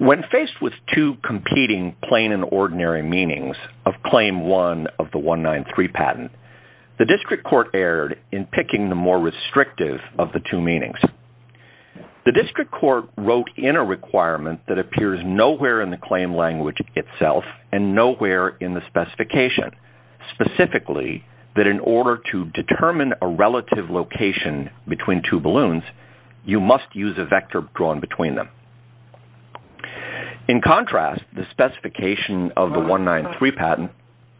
When faced with two competing plain and ordinary meanings of Claim 1 of the 193 patent, the District Court erred in picking the more restrictive of the two meanings. The District Court wrote in a requirement that appears nowhere in the claim language itself and nowhere in the specification, specifically that in order to determine a relative location between two balloons, you must use a vector drawn between them. In contrast, the specification of the 193 patent…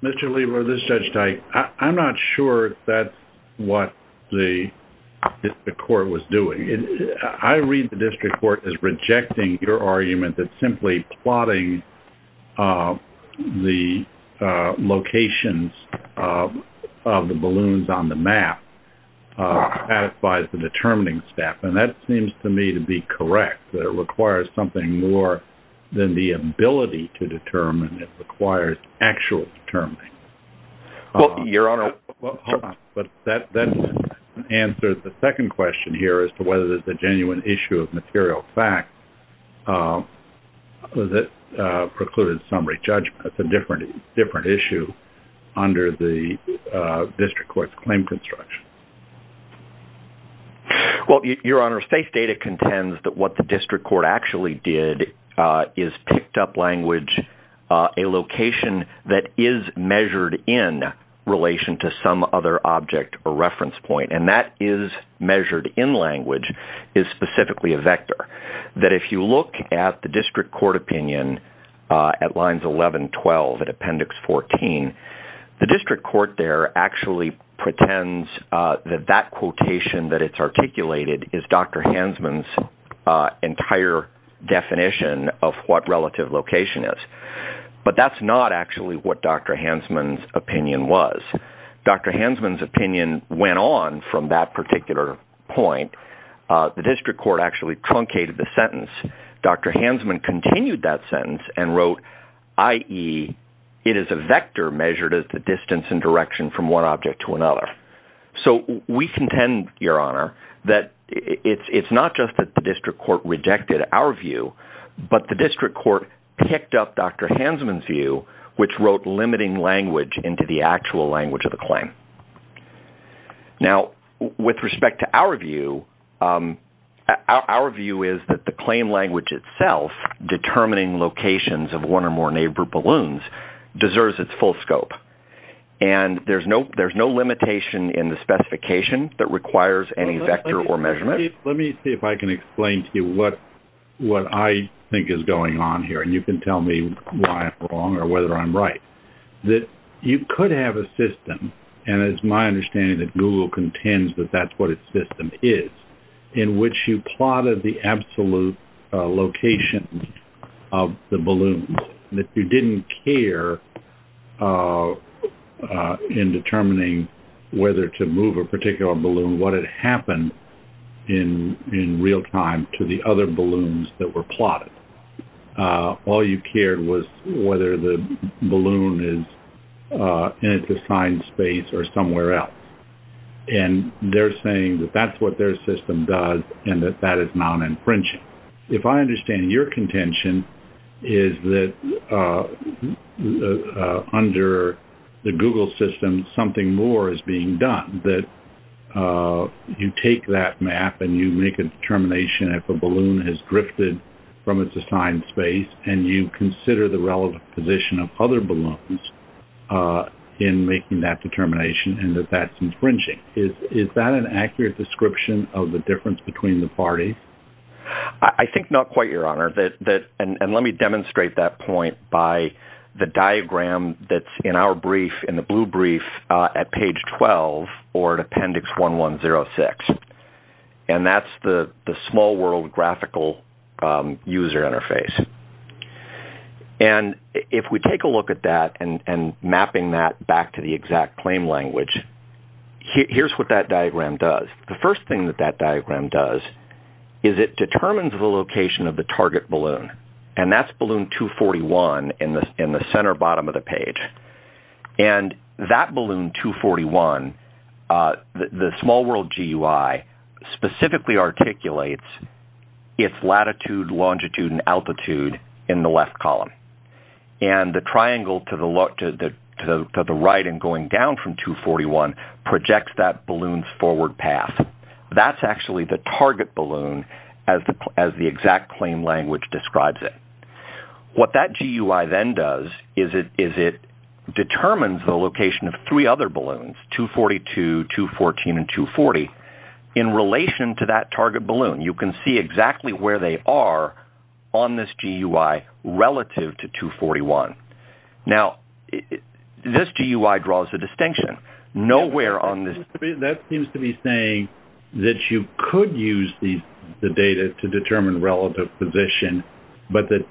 Mr. Lieber, this is Judge Teich. I'm not sure that's what the District Court was doing. I read the District Court as rejecting your argument that simply plotting the locations of the balloons on the map satisfies the determining step, and that seems to me to be correct. It requires something more than the ability to determine. It requires actual determining. Well, Your Honor… But that answers the second question here as to whether there's a genuine issue of material fact that precluded summary judgment. That's a different issue under the District Court's claim construction. Well, Your Honor, state data contends that what the District Court actually did is picked up language, a location that is measured in relation to some other object or reference point, and that is measured in language is specifically a vector. That if you look at the District Court opinion at lines 11, 12, and Appendix 14, the District Court there actually pretends that that quotation that it's articulated is Dr. Hansman's entire definition of what relative location is. But that's not actually what Dr. Hansman's opinion was. Dr. Hansman's opinion went on from that particular point. The District Court actually truncated the sentence. Dr. Hansman continued that sentence and wrote, i.e., it is a vector measured as the distance and direction from one object to another. So we contend, Your Honor, that it's not just that the District Court rejected our view, but the District Court picked up Dr. Hansman's view, which wrote limiting language into the actual language of the claim. Now, with respect to our view, our view is that the claim language itself, determining locations of one or more neighbor balloons, deserves its full scope. And there's no limitation in the specification that requires any vector or measurement. Let me see if I can explain to you what I think is going on here, and you can tell me why I'm wrong or whether I'm right. You could have a system, and it's my understanding that Google contends that that's what its system is, in which you plotted the absolute location of the balloons, that you didn't care in determining whether to move a particular balloon, what had happened in real time to the other balloons that were plotted. All you cared was whether the balloon is in its assigned space or somewhere else. And they're saying that that's what their system does and that that is non-infringing. If I understand your contention, is that under the Google system, something more is being done, that you take that map and you make a determination if a balloon has drifted from its assigned space, and you consider the relative position of other balloons in making that determination and that that's infringing. Is that an accurate description of the difference between the parties? I think not quite, Your Honor. And let me demonstrate that point by the diagram that's in our brief, in the blue brief, at page 12 or at appendix 1106. And that's the small world graphical user interface. And if we take a look at that and mapping that back to the exact claim language, here's what that diagram does. The first thing that that diagram does is it determines the location of the target balloon, and that's balloon 241 in the center bottom of the page. And that balloon 241, the small world GUI, specifically articulates its latitude, longitude, and altitude in the left column. And the triangle to the right and going down from 241 projects that balloon's forward path. That's actually the target balloon as the exact claim language describes it. What that GUI then does is it determines the location of three other balloons, 242, 214, and 240. In relation to that target balloon, you can see exactly where they are on this GUI relative to 241. Now, this GUI draws a distinction. That seems to be saying that you could use the data to determine relative position, but that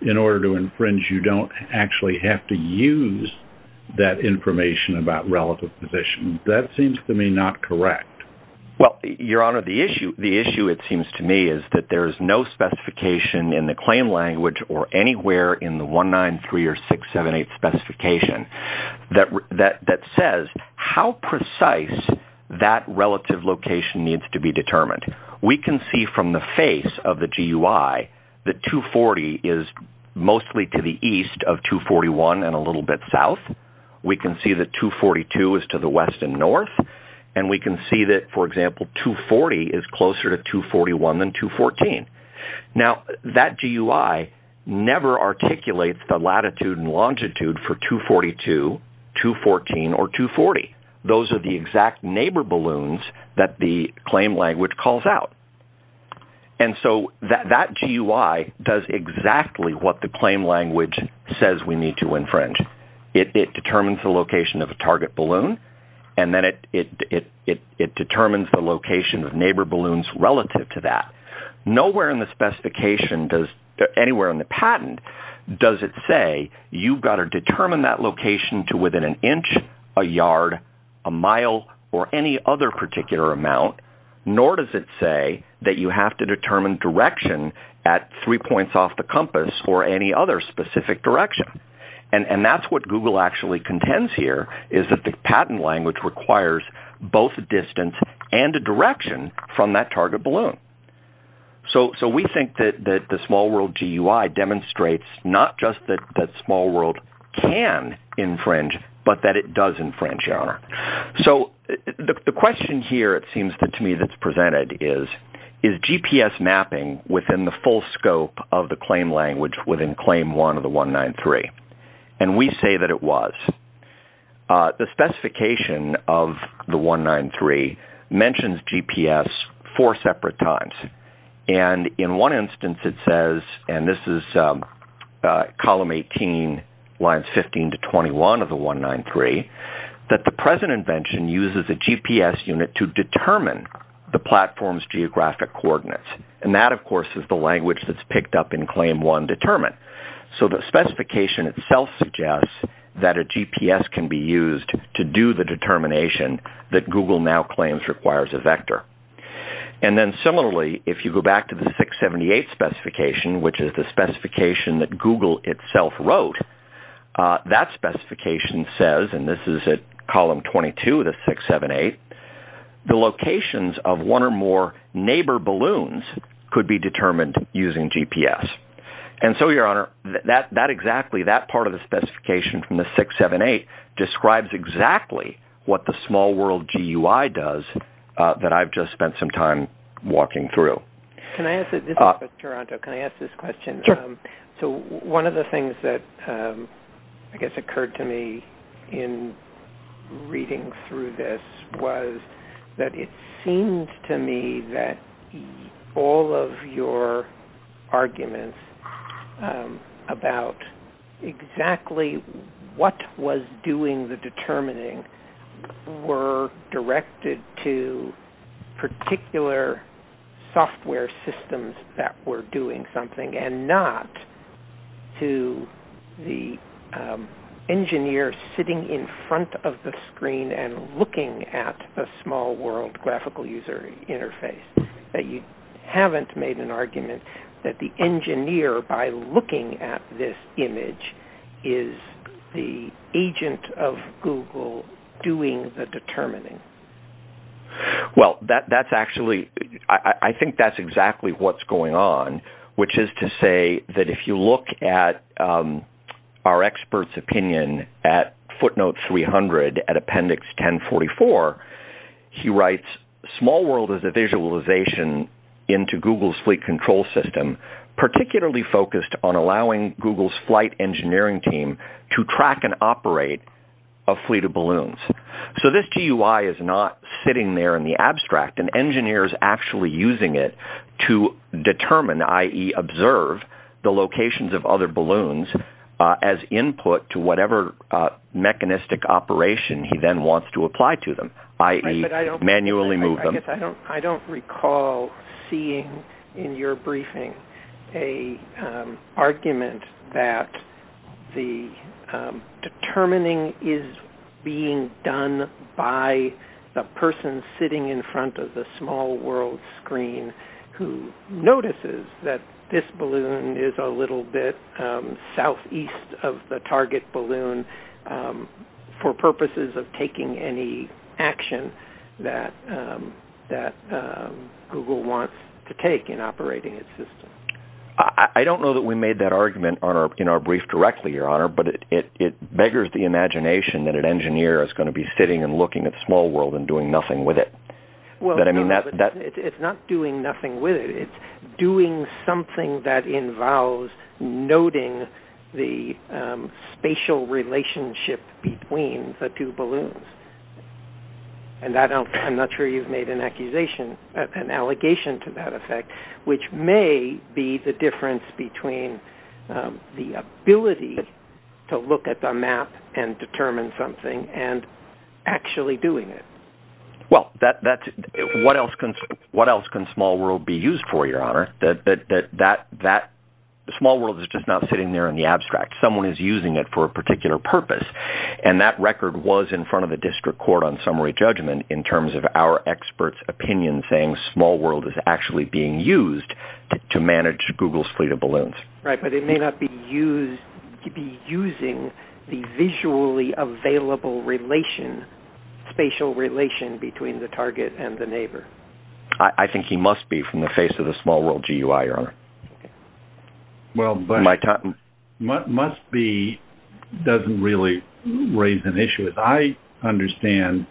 in order to infringe, you don't actually have to use that information about relative position. That seems to me not correct. Well, Your Honor, the issue, it seems to me, is that there is no specification in the claim language or anywhere in the 193 or 678 specification that says how precise that relative location needs to be determined. We can see from the face of the GUI that 240 is mostly to the east of 241 and a little bit south. We can see that 242 is to the west and north. And we can see that, for example, 240 is closer to 241 than 214. Now, that GUI never articulates the latitude and longitude for 242, 214, or 240. Those are the exact neighbor balloons that the claim language calls out. And so that GUI does exactly what the claim language says we need to infringe. It determines the location of a target balloon, and then it determines the location of neighbor balloons relative to that. Nowhere in the specification, anywhere in the patent, does it say you've got to determine that location to within an inch, a yard, a mile, or any other particular amount. Nor does it say that you have to determine direction at three points off the compass or any other specific direction. And that's what Google actually contends here, is that the patent language requires both a distance and a direction from that target balloon. So we think that the Small World GUI demonstrates not just that Small World can infringe, but that it does infringe, Your Honor. So the question here, it seems to me, that's presented is, is GPS mapping within the full scope of the claim language within Claim 1 of the 193? And we say that it was. The specification of the 193 mentions GPS four separate times. And in one instance, it says, and this is Column 18, Lines 15 to 21 of the 193, that the present invention uses a GPS unit to determine the platform's geographic coordinates. And that, of course, is the language that's picked up in Claim 1 determined. So the specification itself suggests that a GPS can be used to do the determination that Google now claims requires a vector. And then similarly, if you go back to the 678 specification, which is the specification that Google itself wrote, that specification says, and this is at Column 22 of the 678, the locations of one or more neighbor balloons could be determined using GPS. And so, Your Honor, that exactly, that part of the specification from the 678 describes exactly what the Small World GUI does that I've just spent some time walking through. This is for Toronto. Can I ask this question? So one of the things that I guess occurred to me in reading through this was that it seemed to me that all of your arguments about exactly what was doing the determining were directed to particular software systems that were doing something and not to the engineer sitting in front of the screen and looking at the Small World graphical user interface. You haven't made an argument that the engineer, by looking at this image, is the agent of Google doing the determining. Well, that's actually, I think that's exactly what's going on, which is to say that if you look at our expert's opinion at footnote 300 at appendix 1044, he writes, Small World is a visualization into Google's fleet control system, particularly focused on allowing Google's flight engineering team to track and operate a fleet of balloons. So this GUI is not sitting there in the abstract. An engineer is actually using it to determine, i.e., observe the locations of other balloons as input to whatever mechanistic operation he then wants to apply to them, i.e., manually move them. I don't recall seeing in your briefing an argument that the determining is being done by the person sitting in front of the Small World screen who notices that this balloon is a little bit southeast of the target balloon for purposes of taking any action that Google wants to take in operating its system. I don't know that we made that argument in our brief directly, Your Honor, but it beggars the imagination that an engineer is going to be sitting and looking at the Small World and doing nothing with it. It's not doing nothing with it. It's doing something that involves noting the spatial relationship between the two balloons. I'm not sure you've made an allegation to that effect, which may be the difference between the ability to look at the map and determine something and actually doing it. Well, what else can Small World be used for, Your Honor? The Small World is just not sitting there in the abstract. Someone is using it for a particular purpose. And that record was in front of the district court on summary judgment in terms of our experts' opinion saying Small World is actually being used to manage Google's fleet of balloons. Right, but it may not be using the visually available spatial relation between the target and the neighbor. I think he must be from the face of the Small World GUI, Your Honor. Well, must be doesn't really raise an issue. As I understand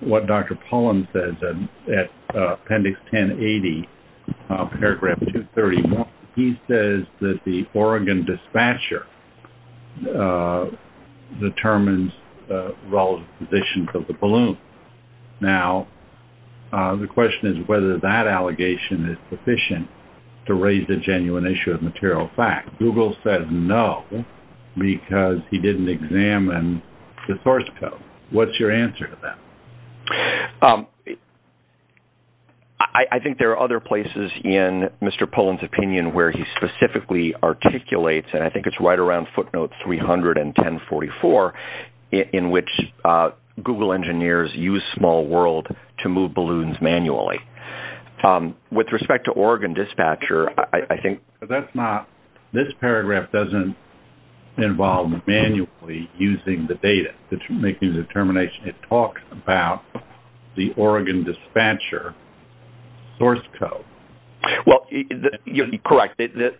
what Dr. Pollan says at Appendix 1080, Paragraph 230, he says that the Oregon dispatcher determines the relative position of the balloon. Now, the question is whether that allegation is sufficient to raise the genuine issue of material fact. Google says no because he didn't examine the source code. What's your answer to that? I think there are other places in Mr. Pollan's opinion where he specifically articulates, and I think it's right around footnote 31044, in which Google engineers use Small World to move balloons manually. With respect to Oregon dispatcher, I think... That's not, this paragraph doesn't involve manually using the data, making the determination. It talks about the Oregon dispatcher source code. Well, you're correct. And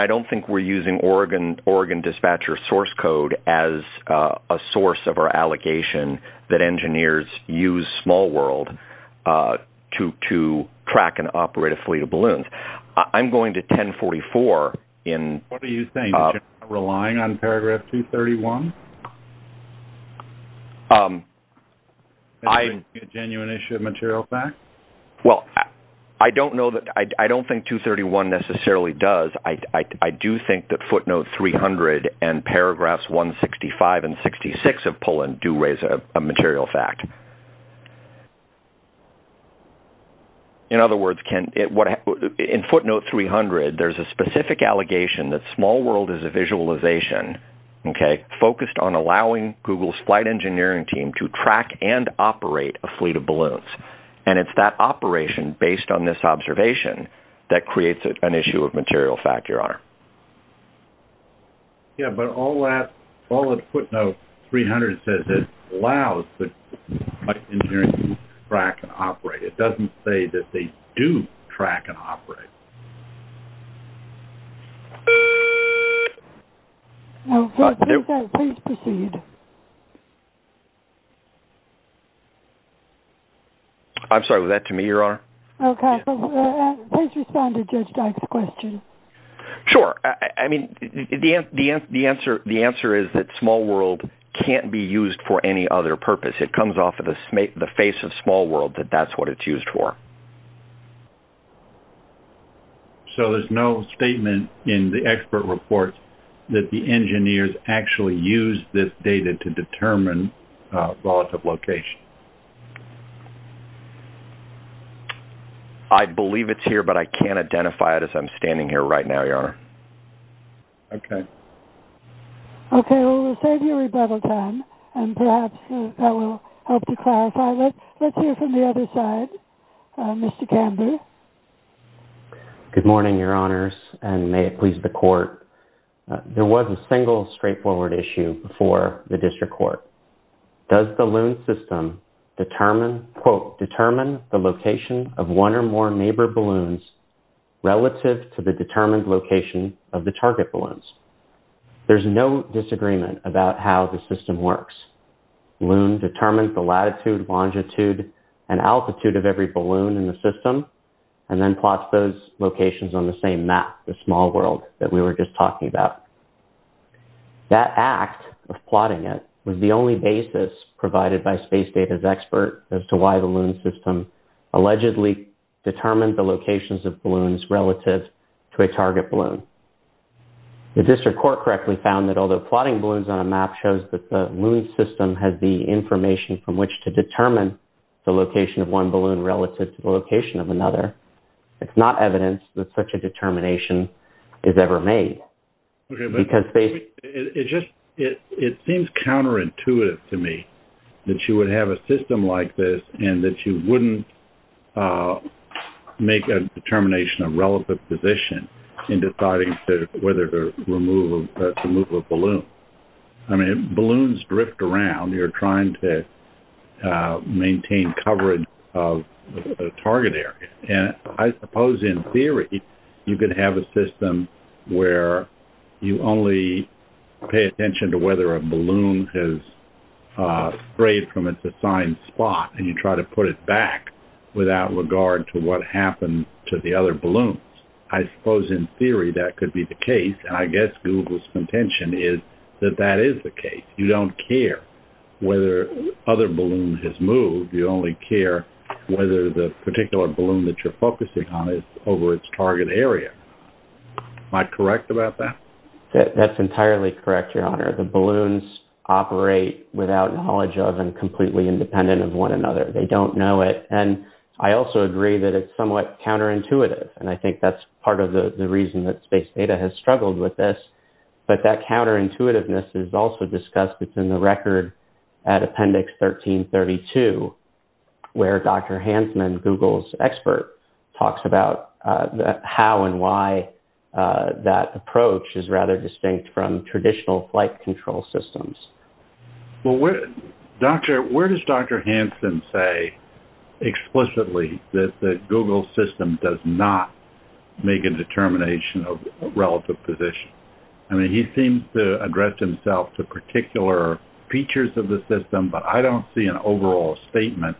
I don't think we're using Oregon dispatcher source code as a source of our allegation that engineers use Small World to track and operate a fleet of balloons. I'm going to 1044 in... What are you saying, relying on Paragraph 231? A genuine issue of material fact? Well, I don't know that... I don't think 231 necessarily does. I do think that footnote 300 and paragraphs 165 and 66 of Pollan do raise a material fact. In other words, in footnote 300, there's a specific allegation that Small World is a visualization, okay, focused on allowing Google's flight engineering team to track and operate a fleet of balloons. And it's that operation, based on this observation, that creates an issue of material fact, Your Honor. Yeah, but all that, all that footnote 300 says is allows the flight engineering team to track and operate. It doesn't say that they do track and operate. No, please proceed. I'm sorry, was that to me, Your Honor? Okay, please respond to Judge Dyke's question. Sure. I mean, the answer is that Small World can't be used for any other purpose. It comes off of the face of Small World that that's what it's used for. So there's no statement in the expert report that the engineers actually used this data to determine volatile location. I believe it's here, but I can't identify it as I'm standing here right now, Your Honor. Okay. Okay, well, we'll save you rebuttal time, and perhaps that will help to clarify. Let's hear from the other side. Mr. Camber. Good morning, Your Honors, and may it please the Court. There was a single straightforward issue before the District Court. Does the Loon system determine, quote, determine the location of one or more neighbor balloons relative to the determined location of the target balloons? There's no disagreement about how the system works. Loon determines the latitude, longitude, and altitude of every balloon in the system, and then plots those locations on the same map, the Small World that we were just talking about. That act of plotting it was the only basis provided by Space Data's expert as to why the Loon system allegedly determined the locations of balloons relative to a target balloon. The District Court correctly found that although plotting balloons on a map shows that the Loon system has the information from which to determine the location of one balloon relative to the location of another, it's not evidence that such a determination is ever made. It seems counterintuitive to me that you would have a system like this and that you wouldn't make a determination of relative position in deciding whether to remove a balloon. I mean, balloons drift around. You're trying to maintain coverage of the target area. And I suppose in theory you could have a system where you only pay attention to whether a balloon has strayed from its assigned spot, and you try to put it back without regard to what happened to the other balloons. I suppose in theory that could be the case, and I guess Google's contention is that that is the case. You don't care whether other balloons have moved. You only care whether the particular balloon that you're focusing on is over its target area. Am I correct about that? That's entirely correct, Your Honor. The balloons operate without knowledge of and completely independent of one another. They don't know it. And I also agree that it's somewhat counterintuitive, and I think that's part of the reason that Space Data has struggled with this. But that counterintuitiveness is also discussed. It's in the record at Appendix 1332, where Dr. Hansman, Google's expert, talks about how and why that approach is rather distinct from traditional flight control systems. Well, where does Dr. Hansman say explicitly that the Google system does not make a determination of relative position? I mean, he seems to address himself to particular features of the system, but I don't see an overall statement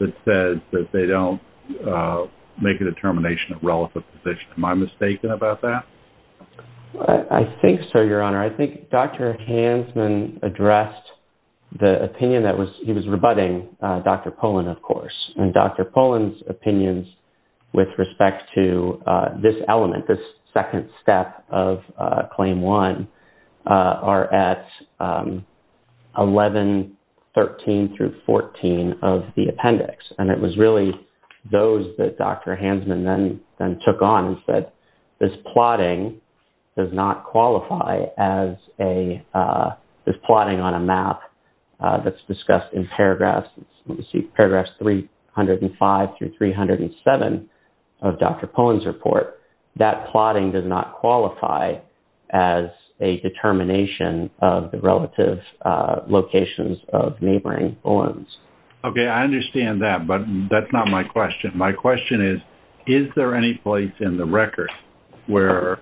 that says that they don't make a determination of relative position. Am I mistaken about that? I think so, Your Honor. I think Dr. Hansman addressed the opinion that he was rebutting Dr. Polin, of course. And Dr. Polin's opinions with respect to this element, this second step of Claim 1, are at 1113 through 14 of the appendix. And it was really those that Dr. Hansman then took on and said, this plotting does not qualify as plotting on a map that's discussed in paragraphs 305 through 307 of Dr. Polin's report. That plotting does not qualify as a determination of the relative locations of neighboring balloons. Okay, I understand that, but that's not my question. My question is, is there any place in the record where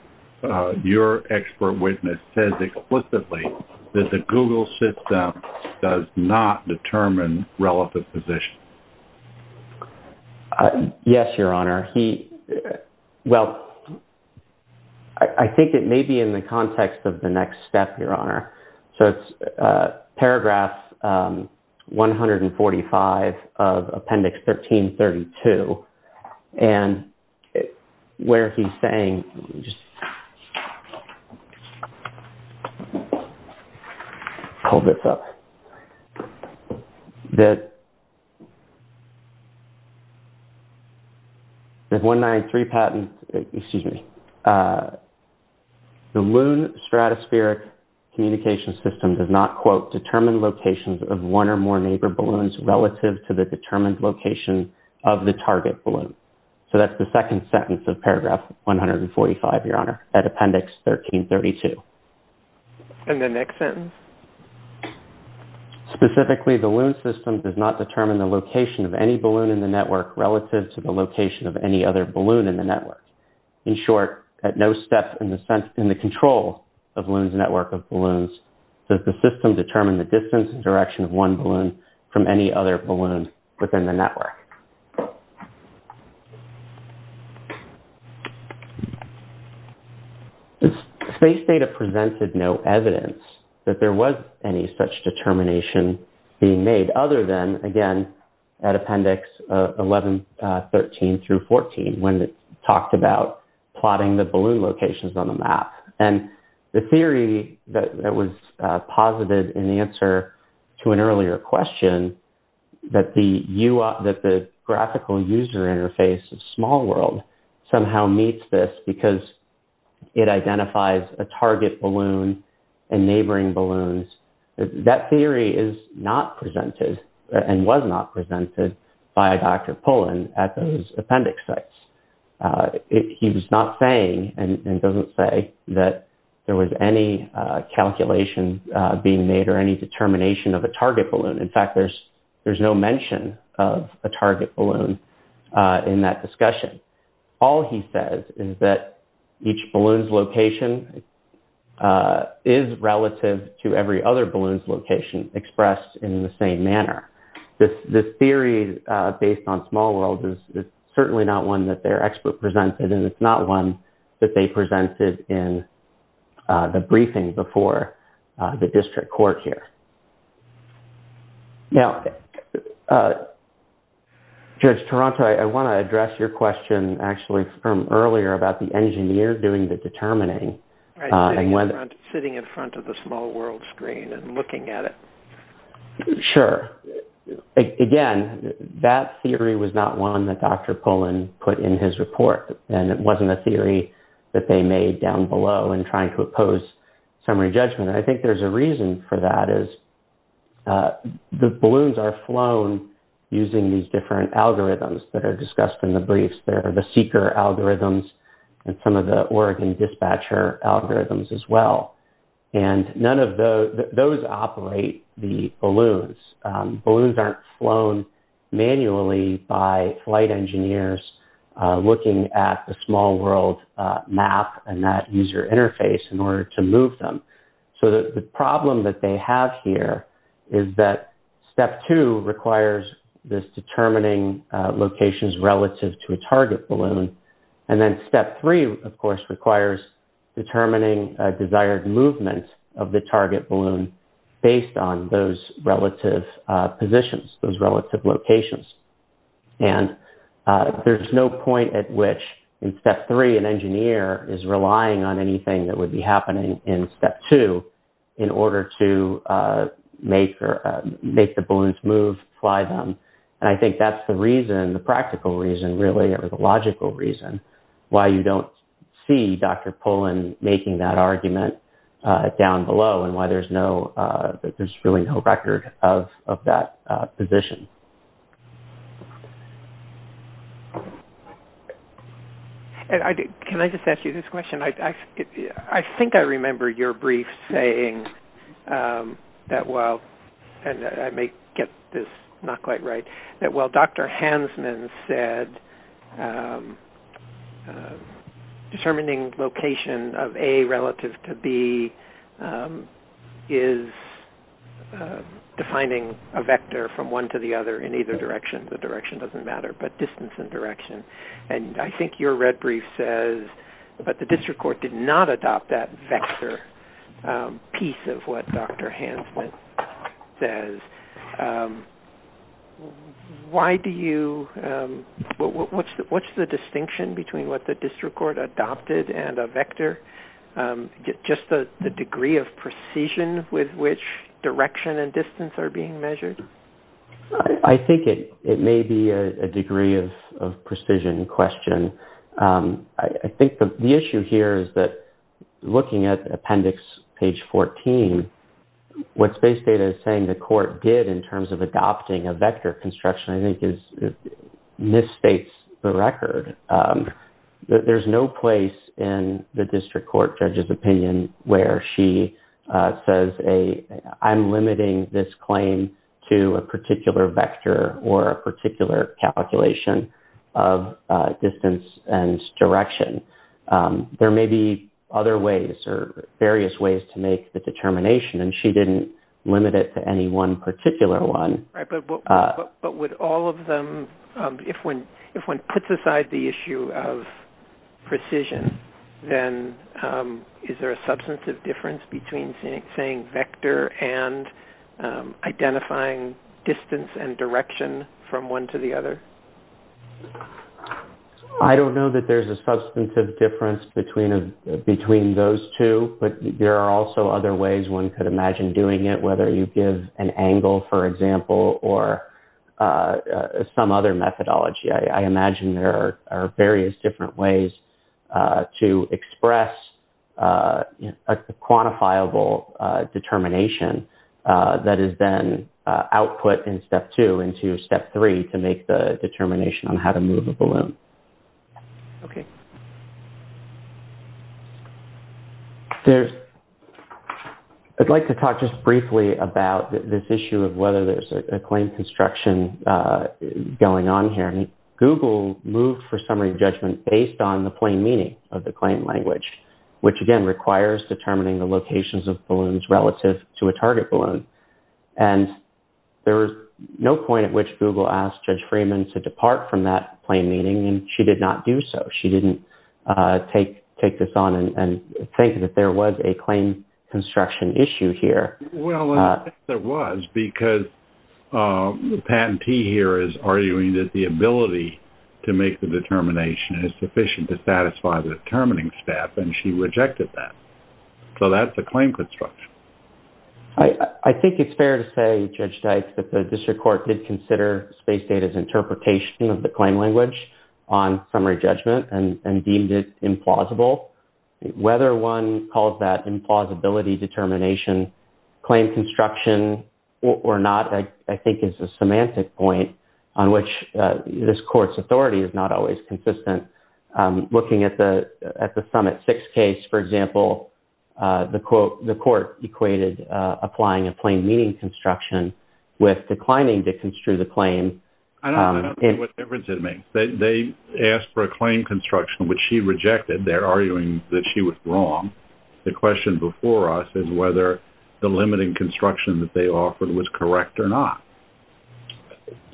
your expert witness says explicitly that the Google system does not determine relative position? Yes, Your Honor. Well, I think it may be in the context of the next step, Your Honor. So it's paragraph 145 of appendix 1332, and where he's saying – let me just pull this up. There's 193 patent – excuse me. The Loon Stratospheric Communication System does not, quote, determine locations of one or more neighbor balloons relative to the determined location of the target balloon. So that's the second sentence of paragraph 145, Your Honor, at appendix 1332. And the next sentence? Specifically, the Loon system does not determine the location of any balloon in the network relative to the location of any other balloon in the network. In short, at no step in the control of Loon's network of balloons does the system determine the distance and direction of one balloon from any other balloon within the network. Space data presented no evidence that there was any such determination being made, other than, again, at appendix 1113 through 14, when it talked about plotting the balloon locations on the map. And the theory that was posited in the answer to an earlier question, that the graphical user interface of SmallWorld somehow meets this because it identifies a target balloon and neighboring balloons, that theory is not presented and was not presented by Dr. Pullen at those appendix sites. He was not saying, and doesn't say, that there was any calculation being made or any determination of a target balloon. In fact, there's no mention of a target balloon in that discussion. All he says is that each balloon's location is relative to every other balloon's location expressed in the same manner. This theory based on SmallWorld is certainly not one that their expert presented, and it's not one that they presented in the briefing before the district court here. Now, Judge Taranto, I want to address your question actually from earlier about the engineer doing the determining. Sitting in front of the SmallWorld screen and looking at it. Sure. Again, that theory was not one that Dr. Pullen put in his report, and it wasn't a theory that they made down below in trying to oppose summary judgment. And I think there's a reason for that is the balloons are flown using these different algorithms that are discussed in the briefs. There are the seeker algorithms and some of the Oregon dispatcher algorithms as well. And none of those operate the balloons. Balloons aren't flown manually by flight engineers looking at the SmallWorld map and that user interface in order to move them. So the problem that they have here is that step two requires this determining locations relative to a target balloon. And then step three, of course, requires determining a desired movement of the target balloon based on those relative positions, those relative locations. And there's no point at which in step three, an engineer is relying on anything that would be happening in step two in order to make or make the balloons move, fly them. And I think that's the reason, the practical reason, really, or the logical reason why you don't see Dr. Pullen making that argument down below and why there's really no record of that position. Can I just ask you this question? I think I remember your brief saying that while-and I may get this not quite right-that while Dr. Hansman said determining location of A relative to B is defining a vector from one to the other in either direction. The direction doesn't matter, but distance and direction. And I think your red brief says that the district court did not adopt that vector piece of what Dr. Hansman says. Why do you-what's the distinction between what the district court adopted and a vector? Just the degree of precision with which direction and distance are being measured? I think it may be a degree of precision question. I think the issue here is that looking at appendix page 14, what Space Data is saying the court did in terms of adopting a vector construction, I think, misstates the record. There's no place in the district court judge's opinion where she says, I'm limiting this claim to a particular vector or a particular calculation of distance and direction. There may be other ways or various ways to make the determination, and she didn't limit it to any one particular one. But would all of them-if one puts aside the issue of precision, then is there a substantive difference between saying vector and identifying distance and direction from one to the other? I don't know that there's a substantive difference between those two, but there are also other ways one could imagine doing it, whether you give an angle, for example, or some other methodology. I imagine there are various different ways to express a quantifiable determination that is then output in step two into step three to make the determination on how to move a balloon. I'd like to talk just briefly about this issue of whether there's a claim construction going on here. Google moved for summary judgment based on the plain meaning of the claim language, which, again, requires determining the locations of balloons relative to a target balloon. And there was no point at which Google asked Judge Freeman to depart from that plain meaning, and she did not do so. She didn't take this on and think that there was a claim construction issue here. Well, I think there was, because the patentee here is arguing that the ability to make the determination is sufficient to satisfy the determining step, and she rejected that. So that's a claim construction. I think it's fair to say, Judge Dykes, that the district court did consider space data's interpretation of the claim language on summary judgment and deemed it implausible. Whether one calls that implausibility determination claim construction or not, I think is a semantic point on which this court's authority is not always consistent. Looking at the Summit 6 case, for example, the court equated applying a plain meaning construction with declining to construe the claim. I don't see what difference it makes. They asked for a claim construction, which she rejected. They're arguing that she was wrong. The question before us is whether the limiting construction that they offered was correct or not.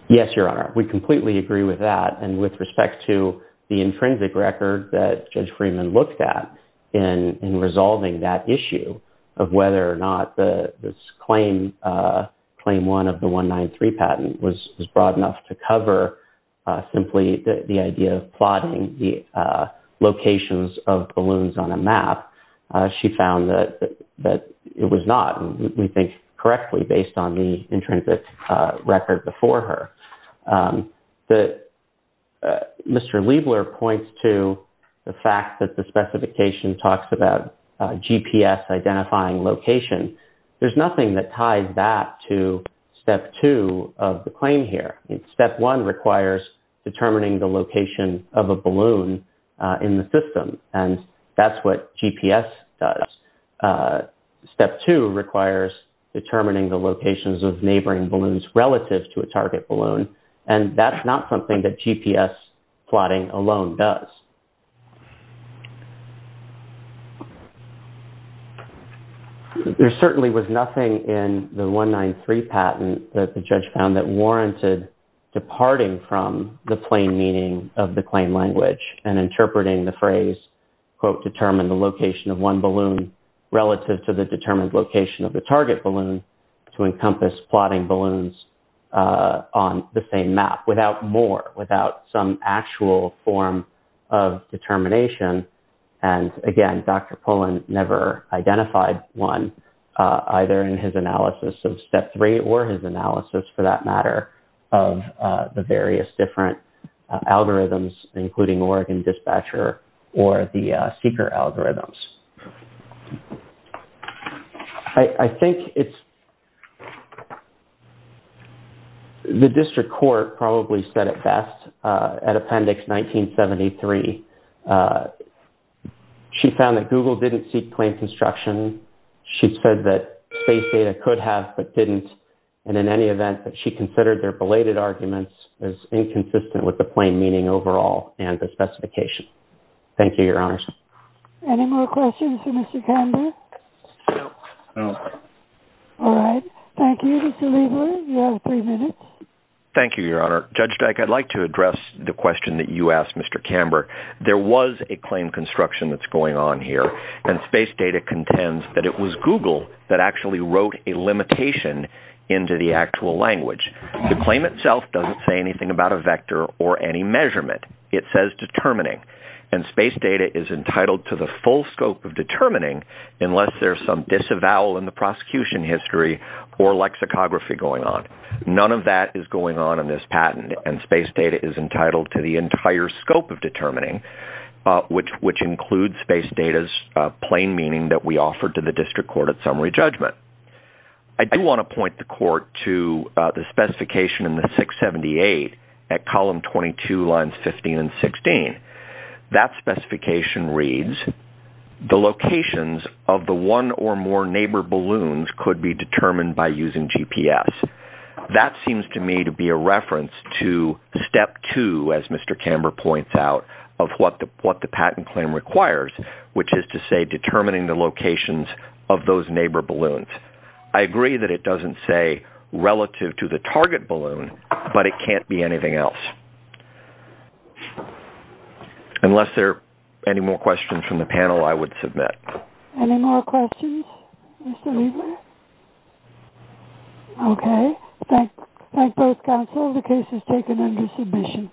Yes, Your Honor. We completely agree with that. And with respect to the intrinsic record that Judge Freeman looked at in resolving that issue of whether or not this Claim 1 of the 193 patent was broad enough to cover simply the idea of plotting the locations of balloons on a map, she found that it was not, we think, correctly based on the intrinsic record before her. Mr. Liebler points to the fact that the specification talks about GPS identifying location. There's nothing that ties that to Step 2 of the claim here. Step 1 requires determining the location of a balloon in the system, and that's what GPS does. Step 2 requires determining the locations of neighboring balloons relative to a target balloon, and that's not something that GPS plotting alone does. There certainly was nothing in the 193 patent that the judge found that warranted departing from the plain meaning of the claim language and interpreting the phrase, quote, determine the location of one balloon relative to the determined location of the target balloon to encompass plotting balloons on the same map without more, without some actual form of determining the location of the target balloon. And again, Dr. Pullen never identified one, either in his analysis of Step 3 or his analysis, for that matter, of the various different algorithms, including Oregon Dispatcher or the seeker algorithms. I think it's, the district court probably said it best at Appendix 1973. She found that Google didn't seek plain construction. She said that space data could have, but didn't, and in any event, that she considered their belated arguments as inconsistent with the plain meaning overall and the specification. Thank you, Your Honors. Any more questions for Mr. Camber? No. All right. Thank you, Mr. Lieber. You have three minutes. Thank you, Your Honor. Judge Dyke, I'd like to address the question that you asked Mr. Camber. There was a claim construction that's going on here, and space data contends that it was Google that actually wrote a limitation into the actual language. The claim itself doesn't say anything about a vector or any measurement. It says determining, and space data is entitled to the full scope of determining unless there's some disavowal in the prosecution history or lexicography going on. None of that is going on in this patent, and space data is entitled to the entire scope of determining, which includes space data's plain meaning that we offered to the district court at summary judgment. I do want to point the court to the specification in the 678 at column 22, lines 15 and 16. That specification reads, the locations of the one or more neighbor balloons could be determined by using GPS. That seems to me to be a reference to step two, as Mr. Camber points out, of what the patent claim requires, which is to say determining the locations of those neighbor balloons. I agree that it doesn't say relative to the target balloon, but it can't be anything else. Unless there are any more questions from the panel, I would submit. Any more questions, Mr. Lieber? Okay. Thank both counsel. The case is taken under submission.